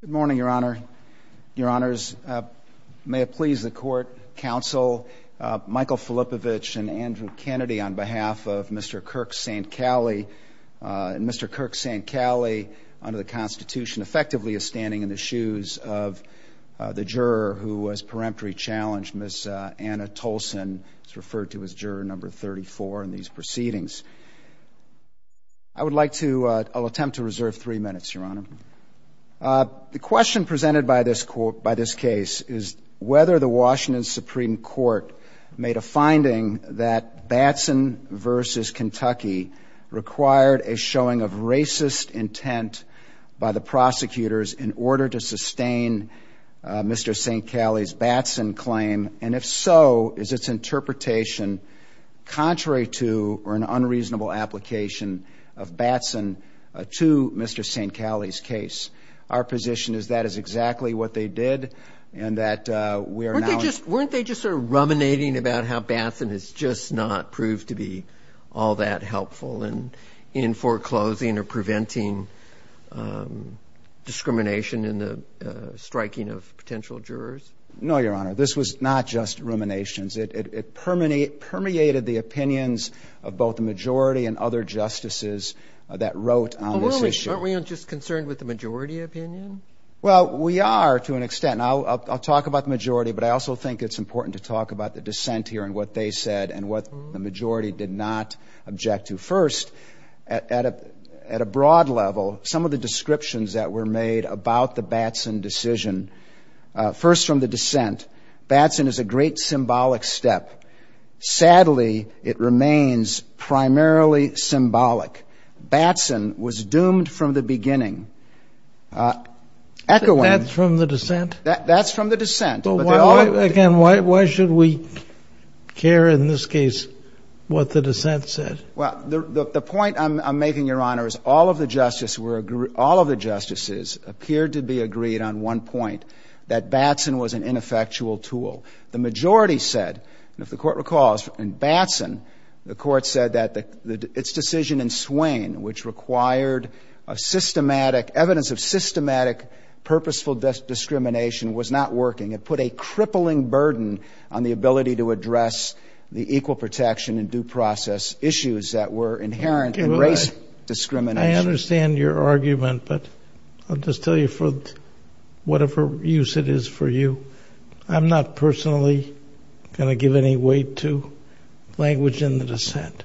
Good morning, Your Honor. Your Honors, may it please the Court, Counsel Michael Filippovich and Andrew Kennedy on behalf of Mr. Kirk SaintCalle. Mr. Kirk SaintCalle under the Constitution effectively is standing in the shoes of the juror who has peremptory challenged Ms. Anna Tolson, who is referred to as juror number 34 in these proceedings. I would like to attempt to reserve three minutes, Your Honor. The question presented by this case is whether the Washington Supreme Court made a finding that Batson v. Kentucky required a showing of racist intent by the prosecutors in order to sustain Mr. SaintCalle's Batson claim, and if so, is its interpretation contrary to or an unreasonable application of Batson to Mr. SaintCalle's case. Our position is that is exactly what they did and that we are now... Weren't they just sort of ruminating about how Batson has just not proved to be all that helpful in foreclosing or preventing discrimination in the striking of potential jurors? No, Your Honor. This was not just ruminations. It permeated the opinions of both the majority and other justices that wrote on this issue. Aren't we just concerned with the majority opinion? Well, we are to an extent. I'll talk about the majority, but I also think it's important to talk about the dissent here and what they said and what the majority did not object to. First, at a broad level, some of the descriptions that were made about the Batson decision, first from the dissent, Batson is a great symbolic step. Sadly, it remains primarily symbolic. Batson was doomed from the beginning. Echoing... That's from the dissent? That's from the dissent. Again, why should we care in this case what the dissent said? Well, the point I'm making, Your Honor, is all of the justices appeared to be agreed on one point, that Batson was an ineffectual tool. The majority said, and if the Court recalls, in Batson, the Court said that its decision in Swain, which required a systematic evidence of systematic purposeful discrimination, was not working. It put a crippling burden on the ability to address the equal protection and due process issues that were inherent in race discrimination. I understand your argument, but I'll just tell you for whatever use it is for you, I'm not personally going to give any weight to language in the dissent.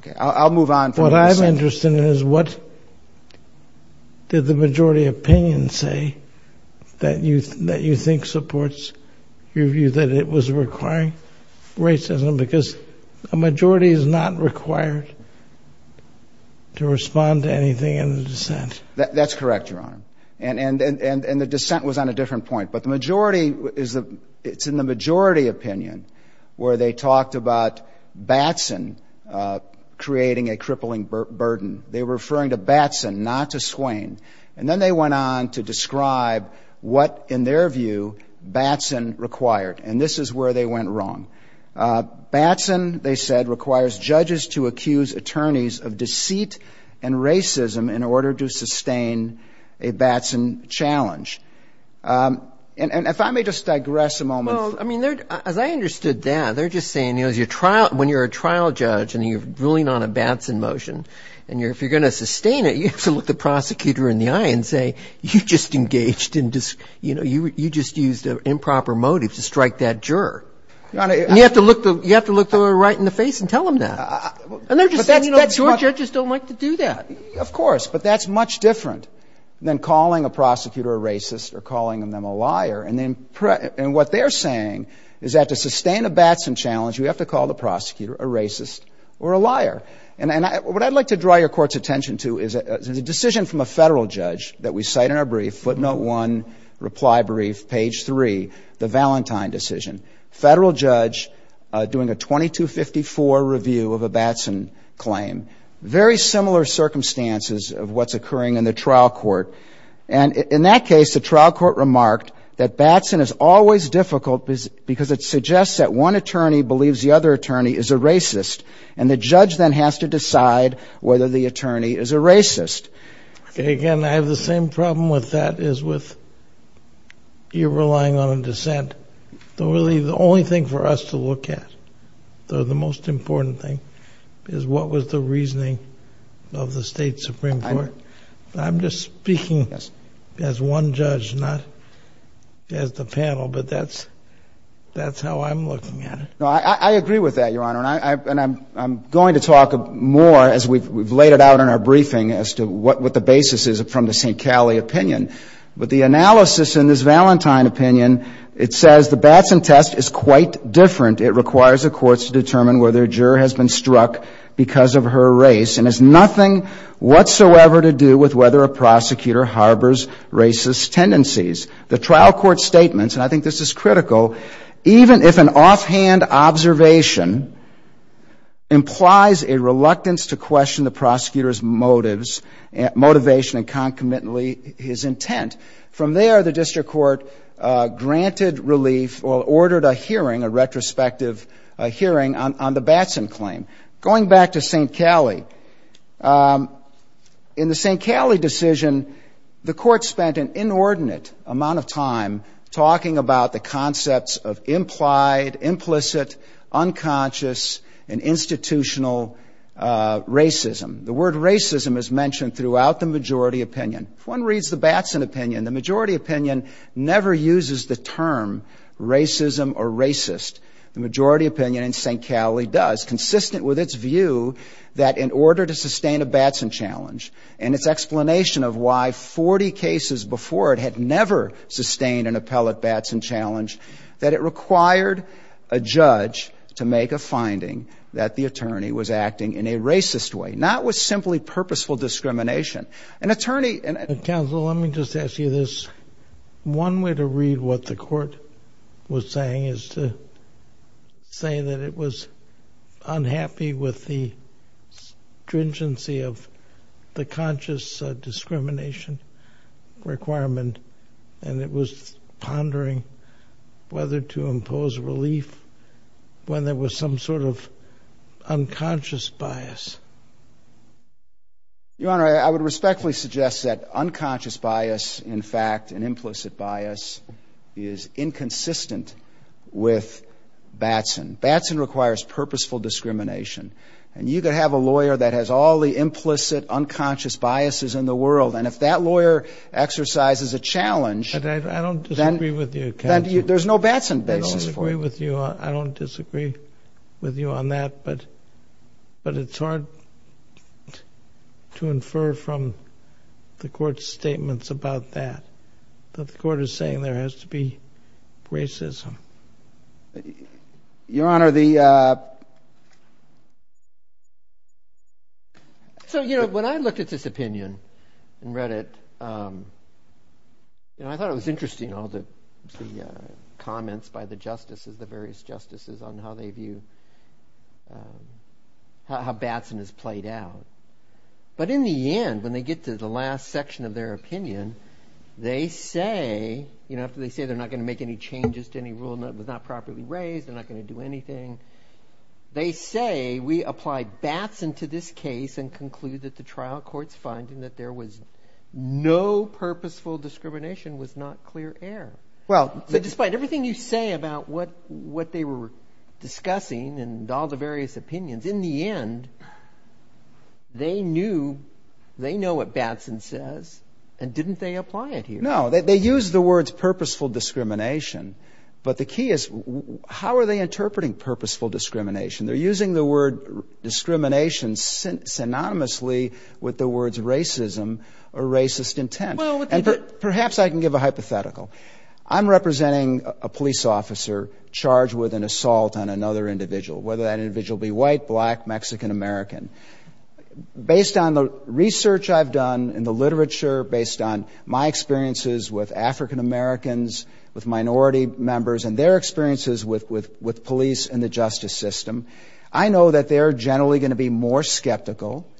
Okay, I'll move on from the dissent. What I'm interested in is what did the majority opinion say that you think supports your view that it was requiring racism because the majority is not required to respond to anything in the dissent? That's correct, Your Honor. And the dissent was on a different point. But the majority is, it's in the majority opinion where they talked about Batson creating a crippling burden. They were referring to Batson, not to Swain. And then they went on to describe what, in their view, Batson required. And this is where they went wrong. Batson, they said, requires judges to accuse attorneys of deceit and racism in order to sustain a Batson challenge. And if I may just digress a moment. Well, I mean, as I understood that, they're just saying, you know, when you're a trial judge and you're ruling on a Batson motion, and if you're going to sustain it, you have to look the prosecutor in the eye and say, you just engaged in, you know, you just used an improper motive to strike that juror. Your Honor, I — And you have to look the — you have to look the lawyer right in the face and tell him that. And they're just saying, you know, that your judges don't like to do that. Of course. But that's much different than calling a prosecutor a racist or calling them a liar. And then — and what they're saying is that to sustain a Batson challenge, you have to call the prosecutor a racist or a liar. And I — what I'd like to draw your Court's attention to is a decision from a Federal judge that we cite in our brief, footnote 1, reply brief, page 3, the Valentine decision. Federal judge doing a 2254 review of a Batson claim. Very similar circumstances of what's occurring in the trial court. And in that case, the trial court remarked that Batson is always difficult because it suggests that one attorney believes the other and has to decide whether the attorney is a racist. Again, I have the same problem with that as with you relying on a dissent. The only thing for us to look at, though the most important thing, is what was the reasoning of the State Supreme Court. I'm just speaking as one judge, not as the panel. But that's — that's how I'm looking at it. No, I agree with that, Your Honor. And I'm going to talk more as we've laid it out in our briefing as to what the basis is from the St. Callie opinion. But the analysis in this Valentine opinion, it says the Batson test is quite different. It requires the courts to determine whether a juror has been struck because of her race and has nothing whatsoever to do with whether a prosecutor harbors racist tendencies. The trial court statements, and I think this is critical, even if an offhand observation implies a reluctance to question the prosecutor's motives — motivation and concomitantly his intent. From there, the district court granted relief or ordered a hearing, a retrospective hearing on the Batson claim. Going back to St. Callie, in the St. Callie decision, the court spent an inordinate amount of time talking about the concepts of implied, implicit, unconscious, and institutional racism. The word racism is mentioned throughout the majority opinion. If one reads the Batson opinion, the majority opinion never uses the term racism or racist. The majority opinion in St. Callie does, consistent with its view that in order to sustain a Batson challenge and its explanation of why 40 cases before it had never sustained an appellate Batson challenge, that it required a judge to make a finding that the attorney was acting in a racist way, not with simply purposeful discrimination. An attorney — Counsel, let me just ask you this. One way to read what the court was saying is to say that it was unhappy with the stringency of the conscious discrimination requirement, and it was pondering whether to impose relief when there was some sort of unconscious bias. Your Honor, I would respectfully suggest that unconscious bias, in fact, and implicit bias is inconsistent with Batson. Batson requires purposeful discrimination, and you could have a lawyer that has all the implicit, unconscious biases in the world, and if that lawyer exercises a challenge — But I don't disagree with you, Counsel. There's no Batson basis for it. I don't disagree with you on that, but it's hard to infer from the court's statements about that, that the court is saying there has to be racism. Your Honor, the — so, you know, when I looked at this opinion and read it, you know, I thought it was interesting, all the comments by the justices, the various justices, on how they view — how Batson is played out. But in the end, when they get to the last section of their opinion, they say — you know, after they say they're not going to make any changes to any rule that was not properly raised, they're not going to do anything — they say, we apply Batson to this case and conclude that the trial court's finding that there was no purposeful discrimination was not clear air. Well — So despite everything you say about what they were discussing and all the various opinions, in the end, they knew — they know what Batson says, and didn't they apply it here? No. They used the words purposeful discrimination. But the key is, how are they interpreting purposeful discrimination? They're using the word discrimination synonymously with the words racism or racist intent. Well, but — Perhaps I can give a hypothetical. I'm representing a police officer charged with an assault on a black Mexican-American. Based on the research I've done and the literature, based on my experiences with African-Americans, with minority members, and their experiences with police and the justice system, I know that they're generally going to be more skeptical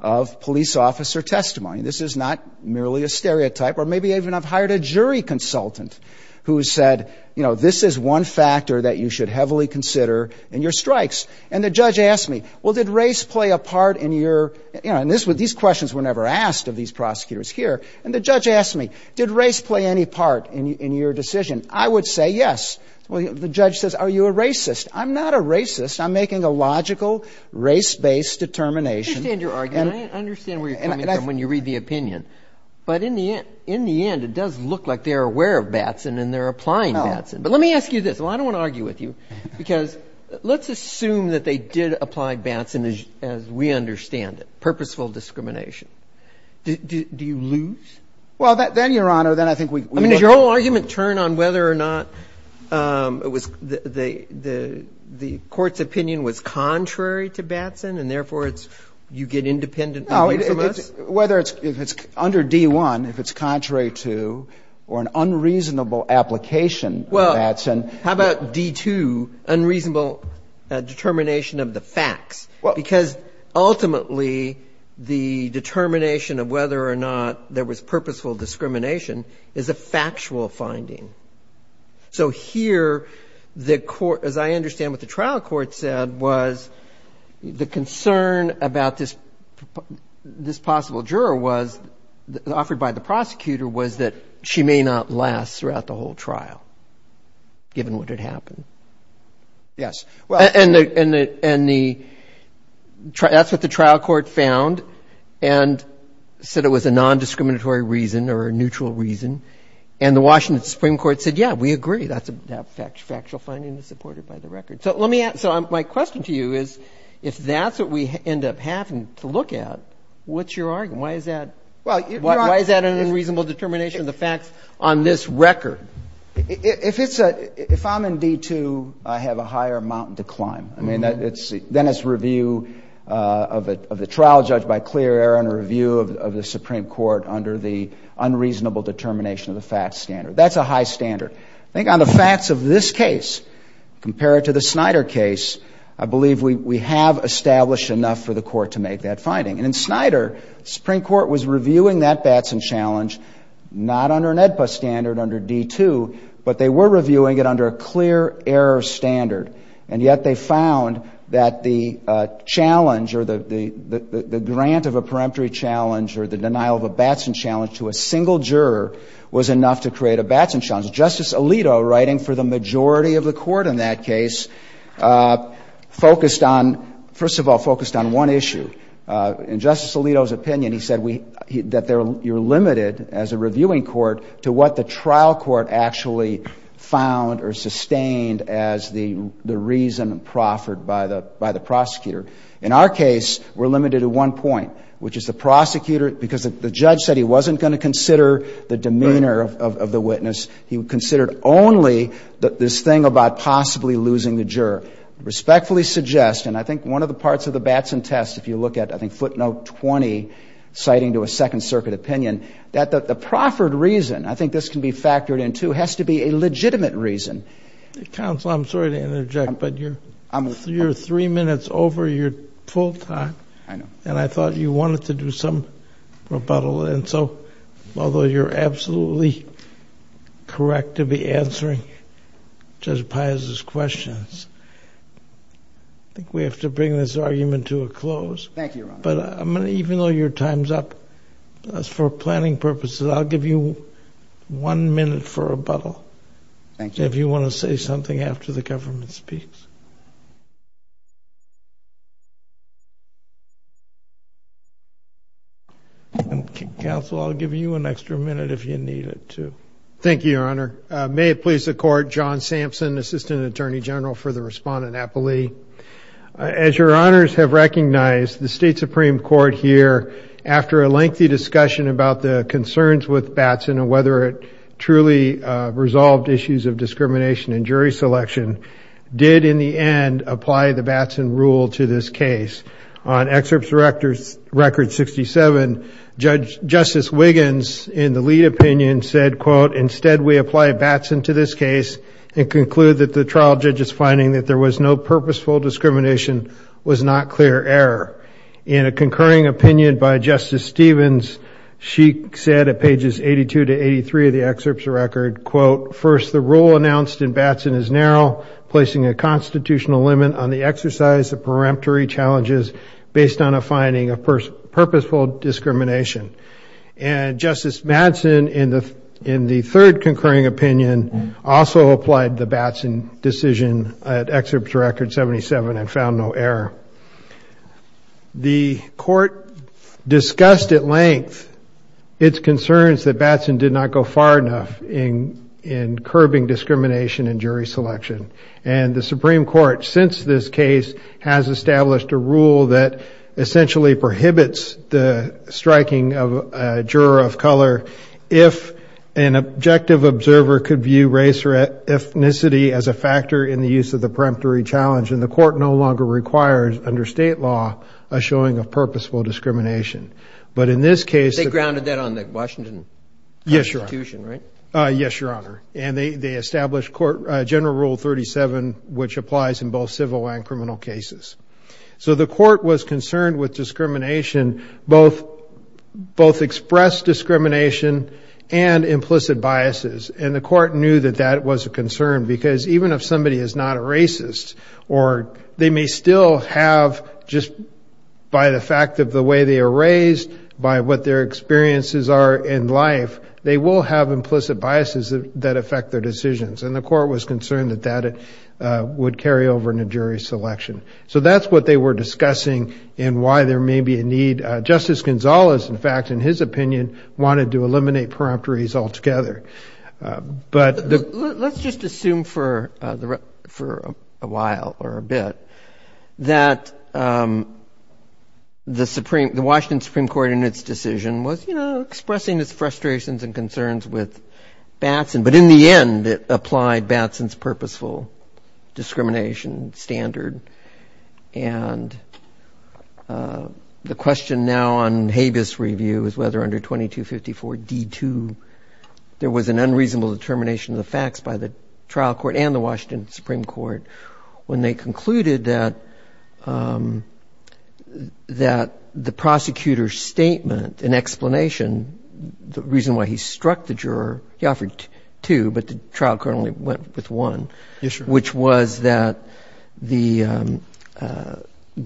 of police officer testimony. This is not merely a stereotype. Or maybe even I've hired a jury consultant who said, you know, this is one factor that you should heavily consider in your strikes. And the judge asked me, well, did race play a part in your — you know, and this — these questions were never asked of these prosecutors here. And the judge asked me, did race play any part in your decision? I would say yes. The judge says, are you a racist? I'm not a racist. I'm making a logical, race-based determination — I understand your argument. I understand where you're coming from when you read the opinion. But in the end, it does look like they're aware of Batson and they're applying Batson. But let me ask you this. Well, I don't want to argue with you, because let's assume that they did apply Batson, as we understand it, purposeful discrimination. Do you lose? Well, then, Your Honor, then I think we — I mean, does your whole argument turn on whether or not it was — the court's opinion was contrary to Batson, and therefore it's — you get independent opinion from us? Whether it's — if it's under D-1, if it's contrary to or an unreasonable application of Batson — Well, how about D-2, unreasonable determination of the facts? Because ultimately, the determination of whether or not there was purposeful discrimination is a factual finding. So here, the court — as I understand what the trial court said, was the concern about this possible juror was — offered by the prosecutor was that she may not last throughout the whole trial, given what had happened. Yes. And the — that's what the trial court found, and said it was a nondiscriminatory reason or a neutral reason. And the Washington Supreme Court said, yeah, we agree, that factual finding is supported by the record. So let me ask — so my question to you is, if that's what we end up having to look at, what's your argument? Why is that — Well, you're — Why is that an unreasonable determination of the facts on this record? If it's a — if I'm in D-2, I have a higher amount to climb. I mean, it's — then it's review of the trial judge by clear error and a review of the Supreme Court under the unreasonable determination of the facts standard. That's a high standard. I think on the facts of this case, compared to the Snyder case, I believe we have established enough for the court to make that finding. And in Snyder, the Supreme Court was reviewing that Batson challenge not under an AEDPA standard under D-2, but they were reviewing it under a clear error standard. And yet they found that the challenge or the grant of a peremptory challenge or the denial of a Batson challenge to a single juror was enough to create a Batson challenge. Justice Alito, writing for the majority of the court in that case, focused on — first of all, focused on one issue. In Justice Alito's opinion, he said that you're limited, as a reviewing court, to what the trial court actually found or sustained as the reason proffered by the prosecutor. In our case, we're limited to one point, which is the prosecutor — because the judge said he wasn't going to consider the demeanor of the witness. He considered only this thing about possibly losing the juror. I respectfully suggest — and I think one of the parts of the Batson test, if you look at, I think, footnote 20, citing to a Second Circuit opinion, that the proffered reason — I think this can be factored in, too — has to be a legitimate reason. Counsel, I'm sorry to interject, but you're three minutes over your full time. I know. And I thought you wanted to do some rebuttal. And so, although you're absolutely correct to be answering Judge Paius's questions, I think we have to bring this argument to a close. Thank you, Your Honor. But I'm going to — even though your time's up, for planning purposes, I'll give you one minute for rebuttal. Thank you, Your Honor. If you want to say something after the government speaks. Counsel, I'll give you an extra minute if you need it, too. Thank you, Your Honor. May it please the Court, John Sampson, Assistant Attorney General for the Respondent Appellee. As Your Honors have recognized, the State Supreme Court here, after a lengthy discussion about the concerns with Batson and whether it truly resolved issues of discrimination in jury selection, did, in the end, apply the Batson rule to this case. On Excerpts Record 67, Justice Wiggins, in the lead opinion, said, quote, Instead, we apply Batson to this case and conclude that the trial judge's finding that there was no purposeful discrimination was not clear error. In a concurring opinion by Justice Stevens, she said, at pages 82 to 83 of the Excerpts Record, quote, First, the rule announced in Batson is narrow, placing a constitutional limit on the exercise of peremptory challenges based on a finding of purposeful discrimination. And Justice Madsen, in the third concurring opinion, also applied the Batson decision at Excerpts Record 77 and found no error. The Court discussed at length its concerns that Batson did not go far enough in curbing discrimination in jury selection. And the Supreme Court, since this case, has established a rule that essentially prohibits the striking of a juror of color if an objective observer could view race or ethnicity as a factor in the use of the peremptory challenge. And the Court no longer requires, under state law, a showing of purposeful discrimination. But in this case... They grounded that on the Washington Constitution, right? Yes, Your Honor. And they established General Rule 37, which applies in both civil and criminal cases. So the Court was concerned with discrimination, both expressed discrimination and implicit biases. And the Court knew that that was a concern, because even if somebody is not a racist, or they may still have, just by the fact of the way they are raised, by what their experiences are in life, they will have implicit biases that affect their decisions. And the Court was concerned that that would carry over into jury selection. So that's what they were discussing, and why there may be a need. Justice Gonzales, in fact, in his opinion, wanted to eliminate peremptories altogether. But the... Let's just assume for a while, or a bit, that the Washington Supreme Court in its decision was expressing its frustrations and concerns with Batson. But in the end, it applied Batson's purposeful discrimination standard. And the question now on habeas review is whether under 2254 D2, there was an unreasonable determination of the facts by the trial court and the Washington Supreme Court, when they concluded that the explanation, the reason why he struck the juror, he offered two, but the trial court only went with one, which was that,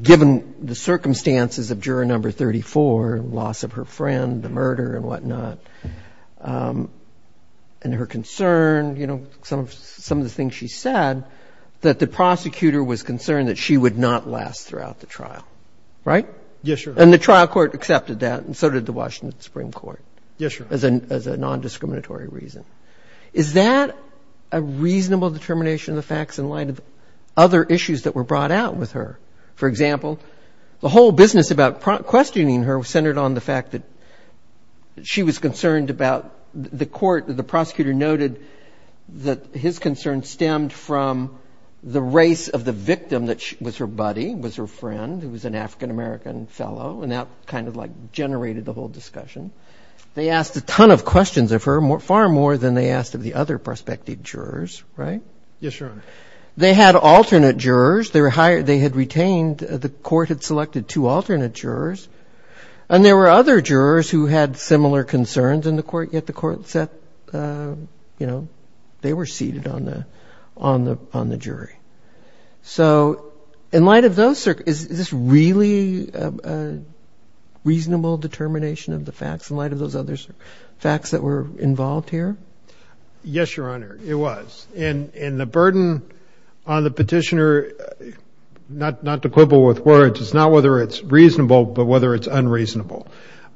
given the circumstances of juror number 34, loss of her friend, the murder and whatnot, and her concern, some of the things she said, that the prosecutor was concerned that she would not last throughout the trial. Right? Yes, sir. And the trial court accepted that, and so did the Washington Supreme Court. Yes, sir. As a nondiscriminatory reason. Is that a reasonable determination of the facts in light of other issues that were brought out with her? For example, the whole business about questioning her centered on the fact that she was concerned about the court, the prosecutor noted that his concern stemmed from the race of the victim that was her buddy, was her friend, who was an African-American fellow, and that kind of like generated the whole discussion. They asked a ton of questions of her, far more than they asked of the other prospective jurors. Right? Yes, Your Honor. They had alternate jurors. They were hired. They had retained. The court had selected two alternate jurors, and there were other jurors who had similar concerns in the court, yet the court said, you know, they were seated on the jury. So, in light of those, is this really a reasonable determination of the facts in light of those other facts that were involved here? Yes, Your Honor, it was. And the burden on the petitioner, not to quibble with words, it's not whether it's reasonable but whether it's unreasonable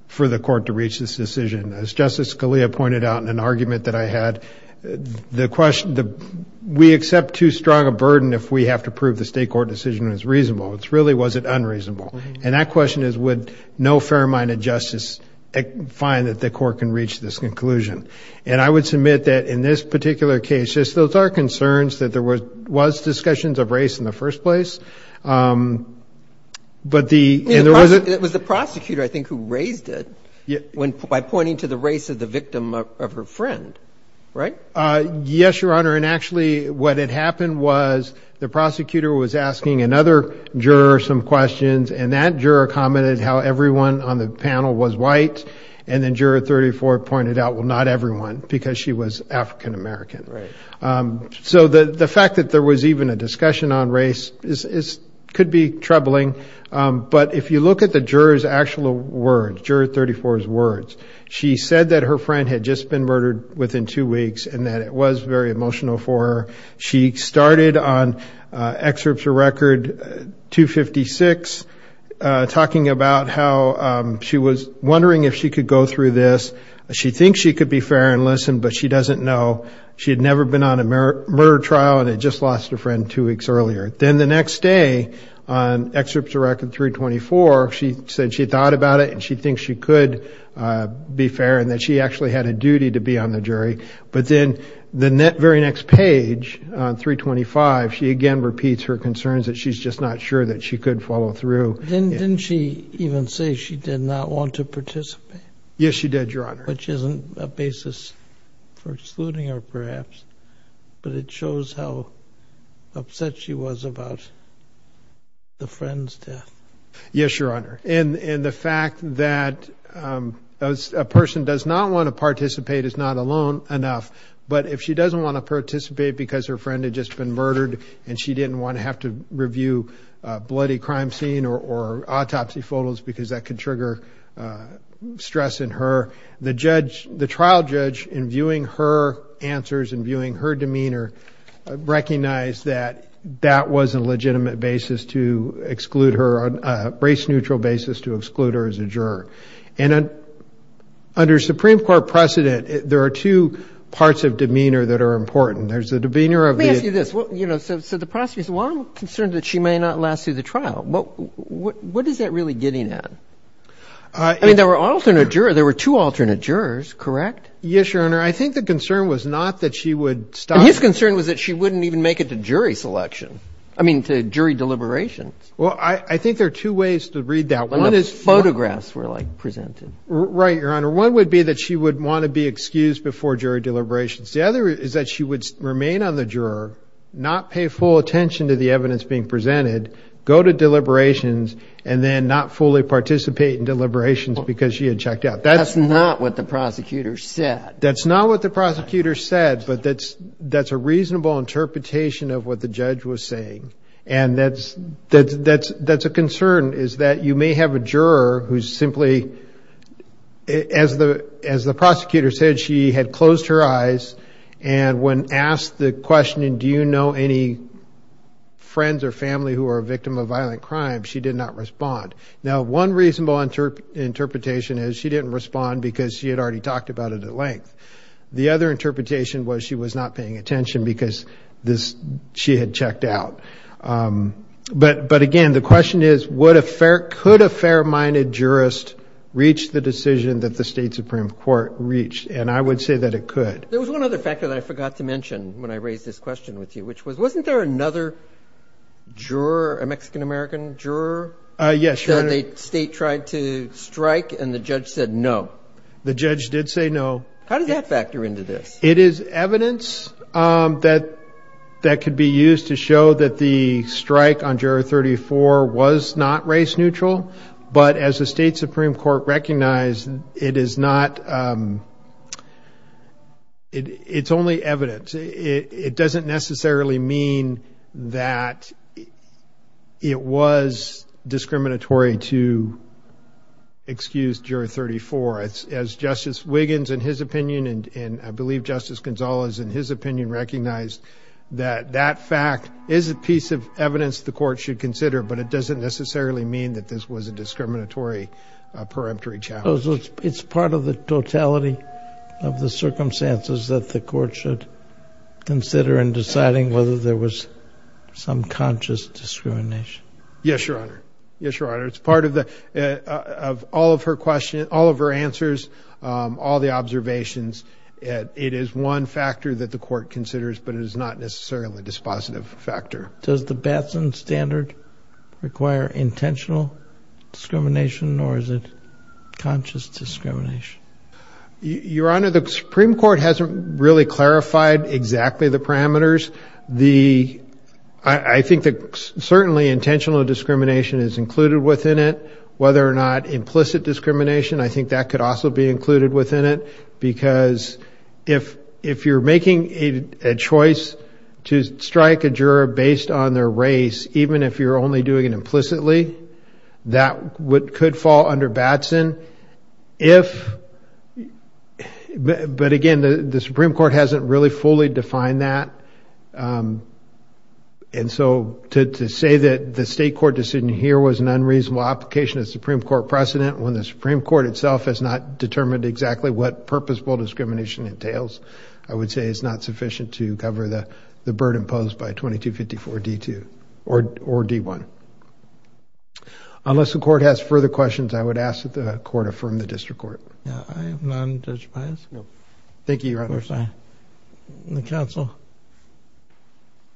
for the court to reach this decision. As Justice Scalia pointed out in an argument that I had, the question, we accept too strong a burden if we have to prove the state court decision is reasonable. It's really, was it unreasonable? And that question is, would no fair-minded justice find that the court can reach this conclusion? And I would submit that in this particular case, those are concerns that there was discussions of race in the first place. But the... It was the prosecutor, I think, who raised it by pointing to the race of the victim of her friend. Right? Yes, Your Honor. And actually, what had happened was the prosecutor was asking another juror some questions, and that juror commented how everyone on the panel was white, and then Juror 34 pointed out, well, not everyone, because she was African-American. So the fact that there was even a discussion on race could be troubling. But if you look at the juror's actual words, Juror 34's words, she said that her friend had just been murdered within two weeks, and that it was very emotional for her. She started on Excerpts of Record 256, talking about how she was wondering if she could go through this. She thinks she could be fair and listen, but she doesn't know. She had never been on a murder trial, and had just lost a friend two weeks earlier. Then the next day, on Excerpts of Record 324, she said she thought about it, and she thinks she could be fair, and that she actually had a duty to be on the jury. But then the very next page, on 325, she again repeats her concerns that she's just not sure that she could follow through. Didn't she even say she did not want to participate? Yes, she did, Your Honor. Which isn't a basis for excluding her, perhaps, but it shows how upset she was about the friend's death. Yes, Your Honor. The fact that a person does not want to participate is not alone enough, but if she doesn't want to participate because her friend had just been murdered, and she didn't want to have to review a bloody crime scene or autopsy photos, because that could trigger stress in her, the trial judge, in viewing her answers and viewing her demeanor, recognized that that was a legitimate basis to exclude her, a race-neutral basis to exclude her as a juror. Under Supreme Court precedent, there are two parts of demeanor that are important. There's the demeanor of the... Let me ask you this. So the prosecutor says, well, I'm concerned that she may not last through the trial. What is that really getting at? I mean, there were alternate jurors. There were two alternate jurors, correct? Yes, Your Honor. I think the concern was not that she would stop... His concern was that she wouldn't even make it to jury selection, I mean, to jury deliberations. Well, I think there are two ways to read that. One is... When the photographs were presented. Right, Your Honor. One would be that she would want to be excused before jury deliberations. The other is that she would remain on the juror, not pay full attention to the evidence being presented, go to deliberations, and then not fully participate in deliberations because she had checked out. That's not what the prosecutor said. That's not what the prosecutor said, but that's a reasonable interpretation of what the judge was saying. And that's a concern, is that you may have a juror who simply, as the prosecutor said, she had closed her eyes, and when asked the question, do you know any friends or family who are a victim of violent crime, she did not respond. Now one reasonable interpretation is she didn't respond because she had already talked about it at length. The other interpretation was she was not paying attention because she had checked out. But again, the question is, could a fair-minded jurist reach the decision that the state Supreme Court reached? And I would say that it could. There was one other factor that I forgot to mention when I raised this question with you, which was, wasn't there another juror, a Mexican-American juror, that the state tried to strike and the judge said no? The judge did say no. How does that factor into this? It is evidence that could be used to show that the strike on Juror 34 was not race-neutral, but as the state Supreme Court recognized, it is not, it's only evidence. It doesn't necessarily mean that it was discriminatory to excuse Juror 34. As Justice Wiggins, in his opinion, and I believe Justice Gonzales, in his opinion, recognized that that fact is a piece of evidence the court should consider, but it doesn't necessarily mean that this was a discriminatory, a peremptory challenge. So it's part of the totality of the circumstances that the court should consider in deciding whether there was some conscious discrimination? Yes, Your Honor. Yes, Your Honor. It's part of all of her questions, all of her answers, all the observations. It is one factor that the court considers, but it is not necessarily a dispositive factor. Does the Batson standard require intentional discrimination or is it conscious discrimination? Your Honor, the Supreme Court hasn't really clarified exactly the parameters. I think that certainly intentional discrimination is included within it. Whether or not implicit discrimination, I think that could also be included within it because if you're making a choice to strike a juror based on their race, even if you're only doing it implicitly, that could fall under Batson. But again, the Supreme Court hasn't really fully defined that. And so to say that the state court decision here was an unreasonable application of the Supreme Court precedent when the Supreme Court itself has not determined exactly what purpose bull discrimination entails, I would say it's not sufficient to cover the burden posed by 2254 D2 or D1. Unless the court has further questions, I would ask that the court affirm the district court. I am non-judge biased. No. Thank you, Your Honor. Of course I am. Counsel?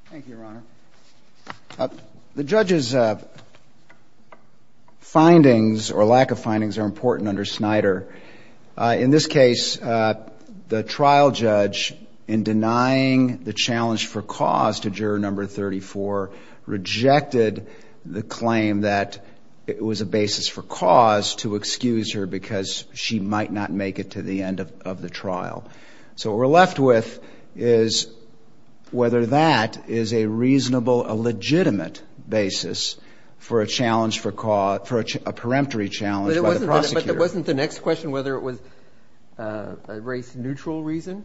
Thank you, Your Honor. The judge's findings or lack of findings are important under Snyder. In this case, the trial judge, in denying the challenge for cause to juror number 34, rejected the claim that it was a basis for cause to excuse her because she might not make it to the end of the trial. So what we're left with is whether that is a reasonable, a legitimate basis for a challenge for cause, for a peremptory challenge by the prosecutor. But wasn't the next question whether it was a race-neutral reason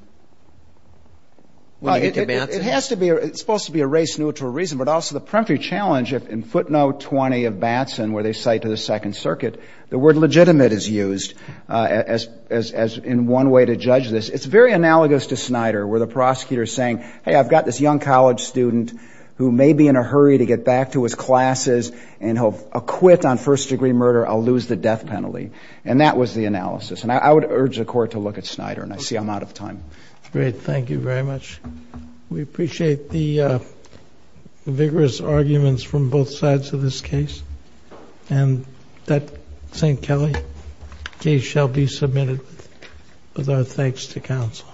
when you get to Batson? It has to be. It's supposed to be a race-neutral reason, but also the peremptory challenge, if in footnote 20 of Batson, where they cite to the Second Circuit, the word legitimate is used as in one way to judge this. It's very analogous to Snyder, where the prosecutor is saying, hey, I've got this young college student who may be in a hurry to get back to his classes, and he'll acquit on first And that was the analysis, and I would urge the court to look at Snyder, and I see I'm out of time. Great. Thank you very much. We appreciate the vigorous arguments from both sides of this case, and that St. Kelly case shall be submitted with our thanks to counsel.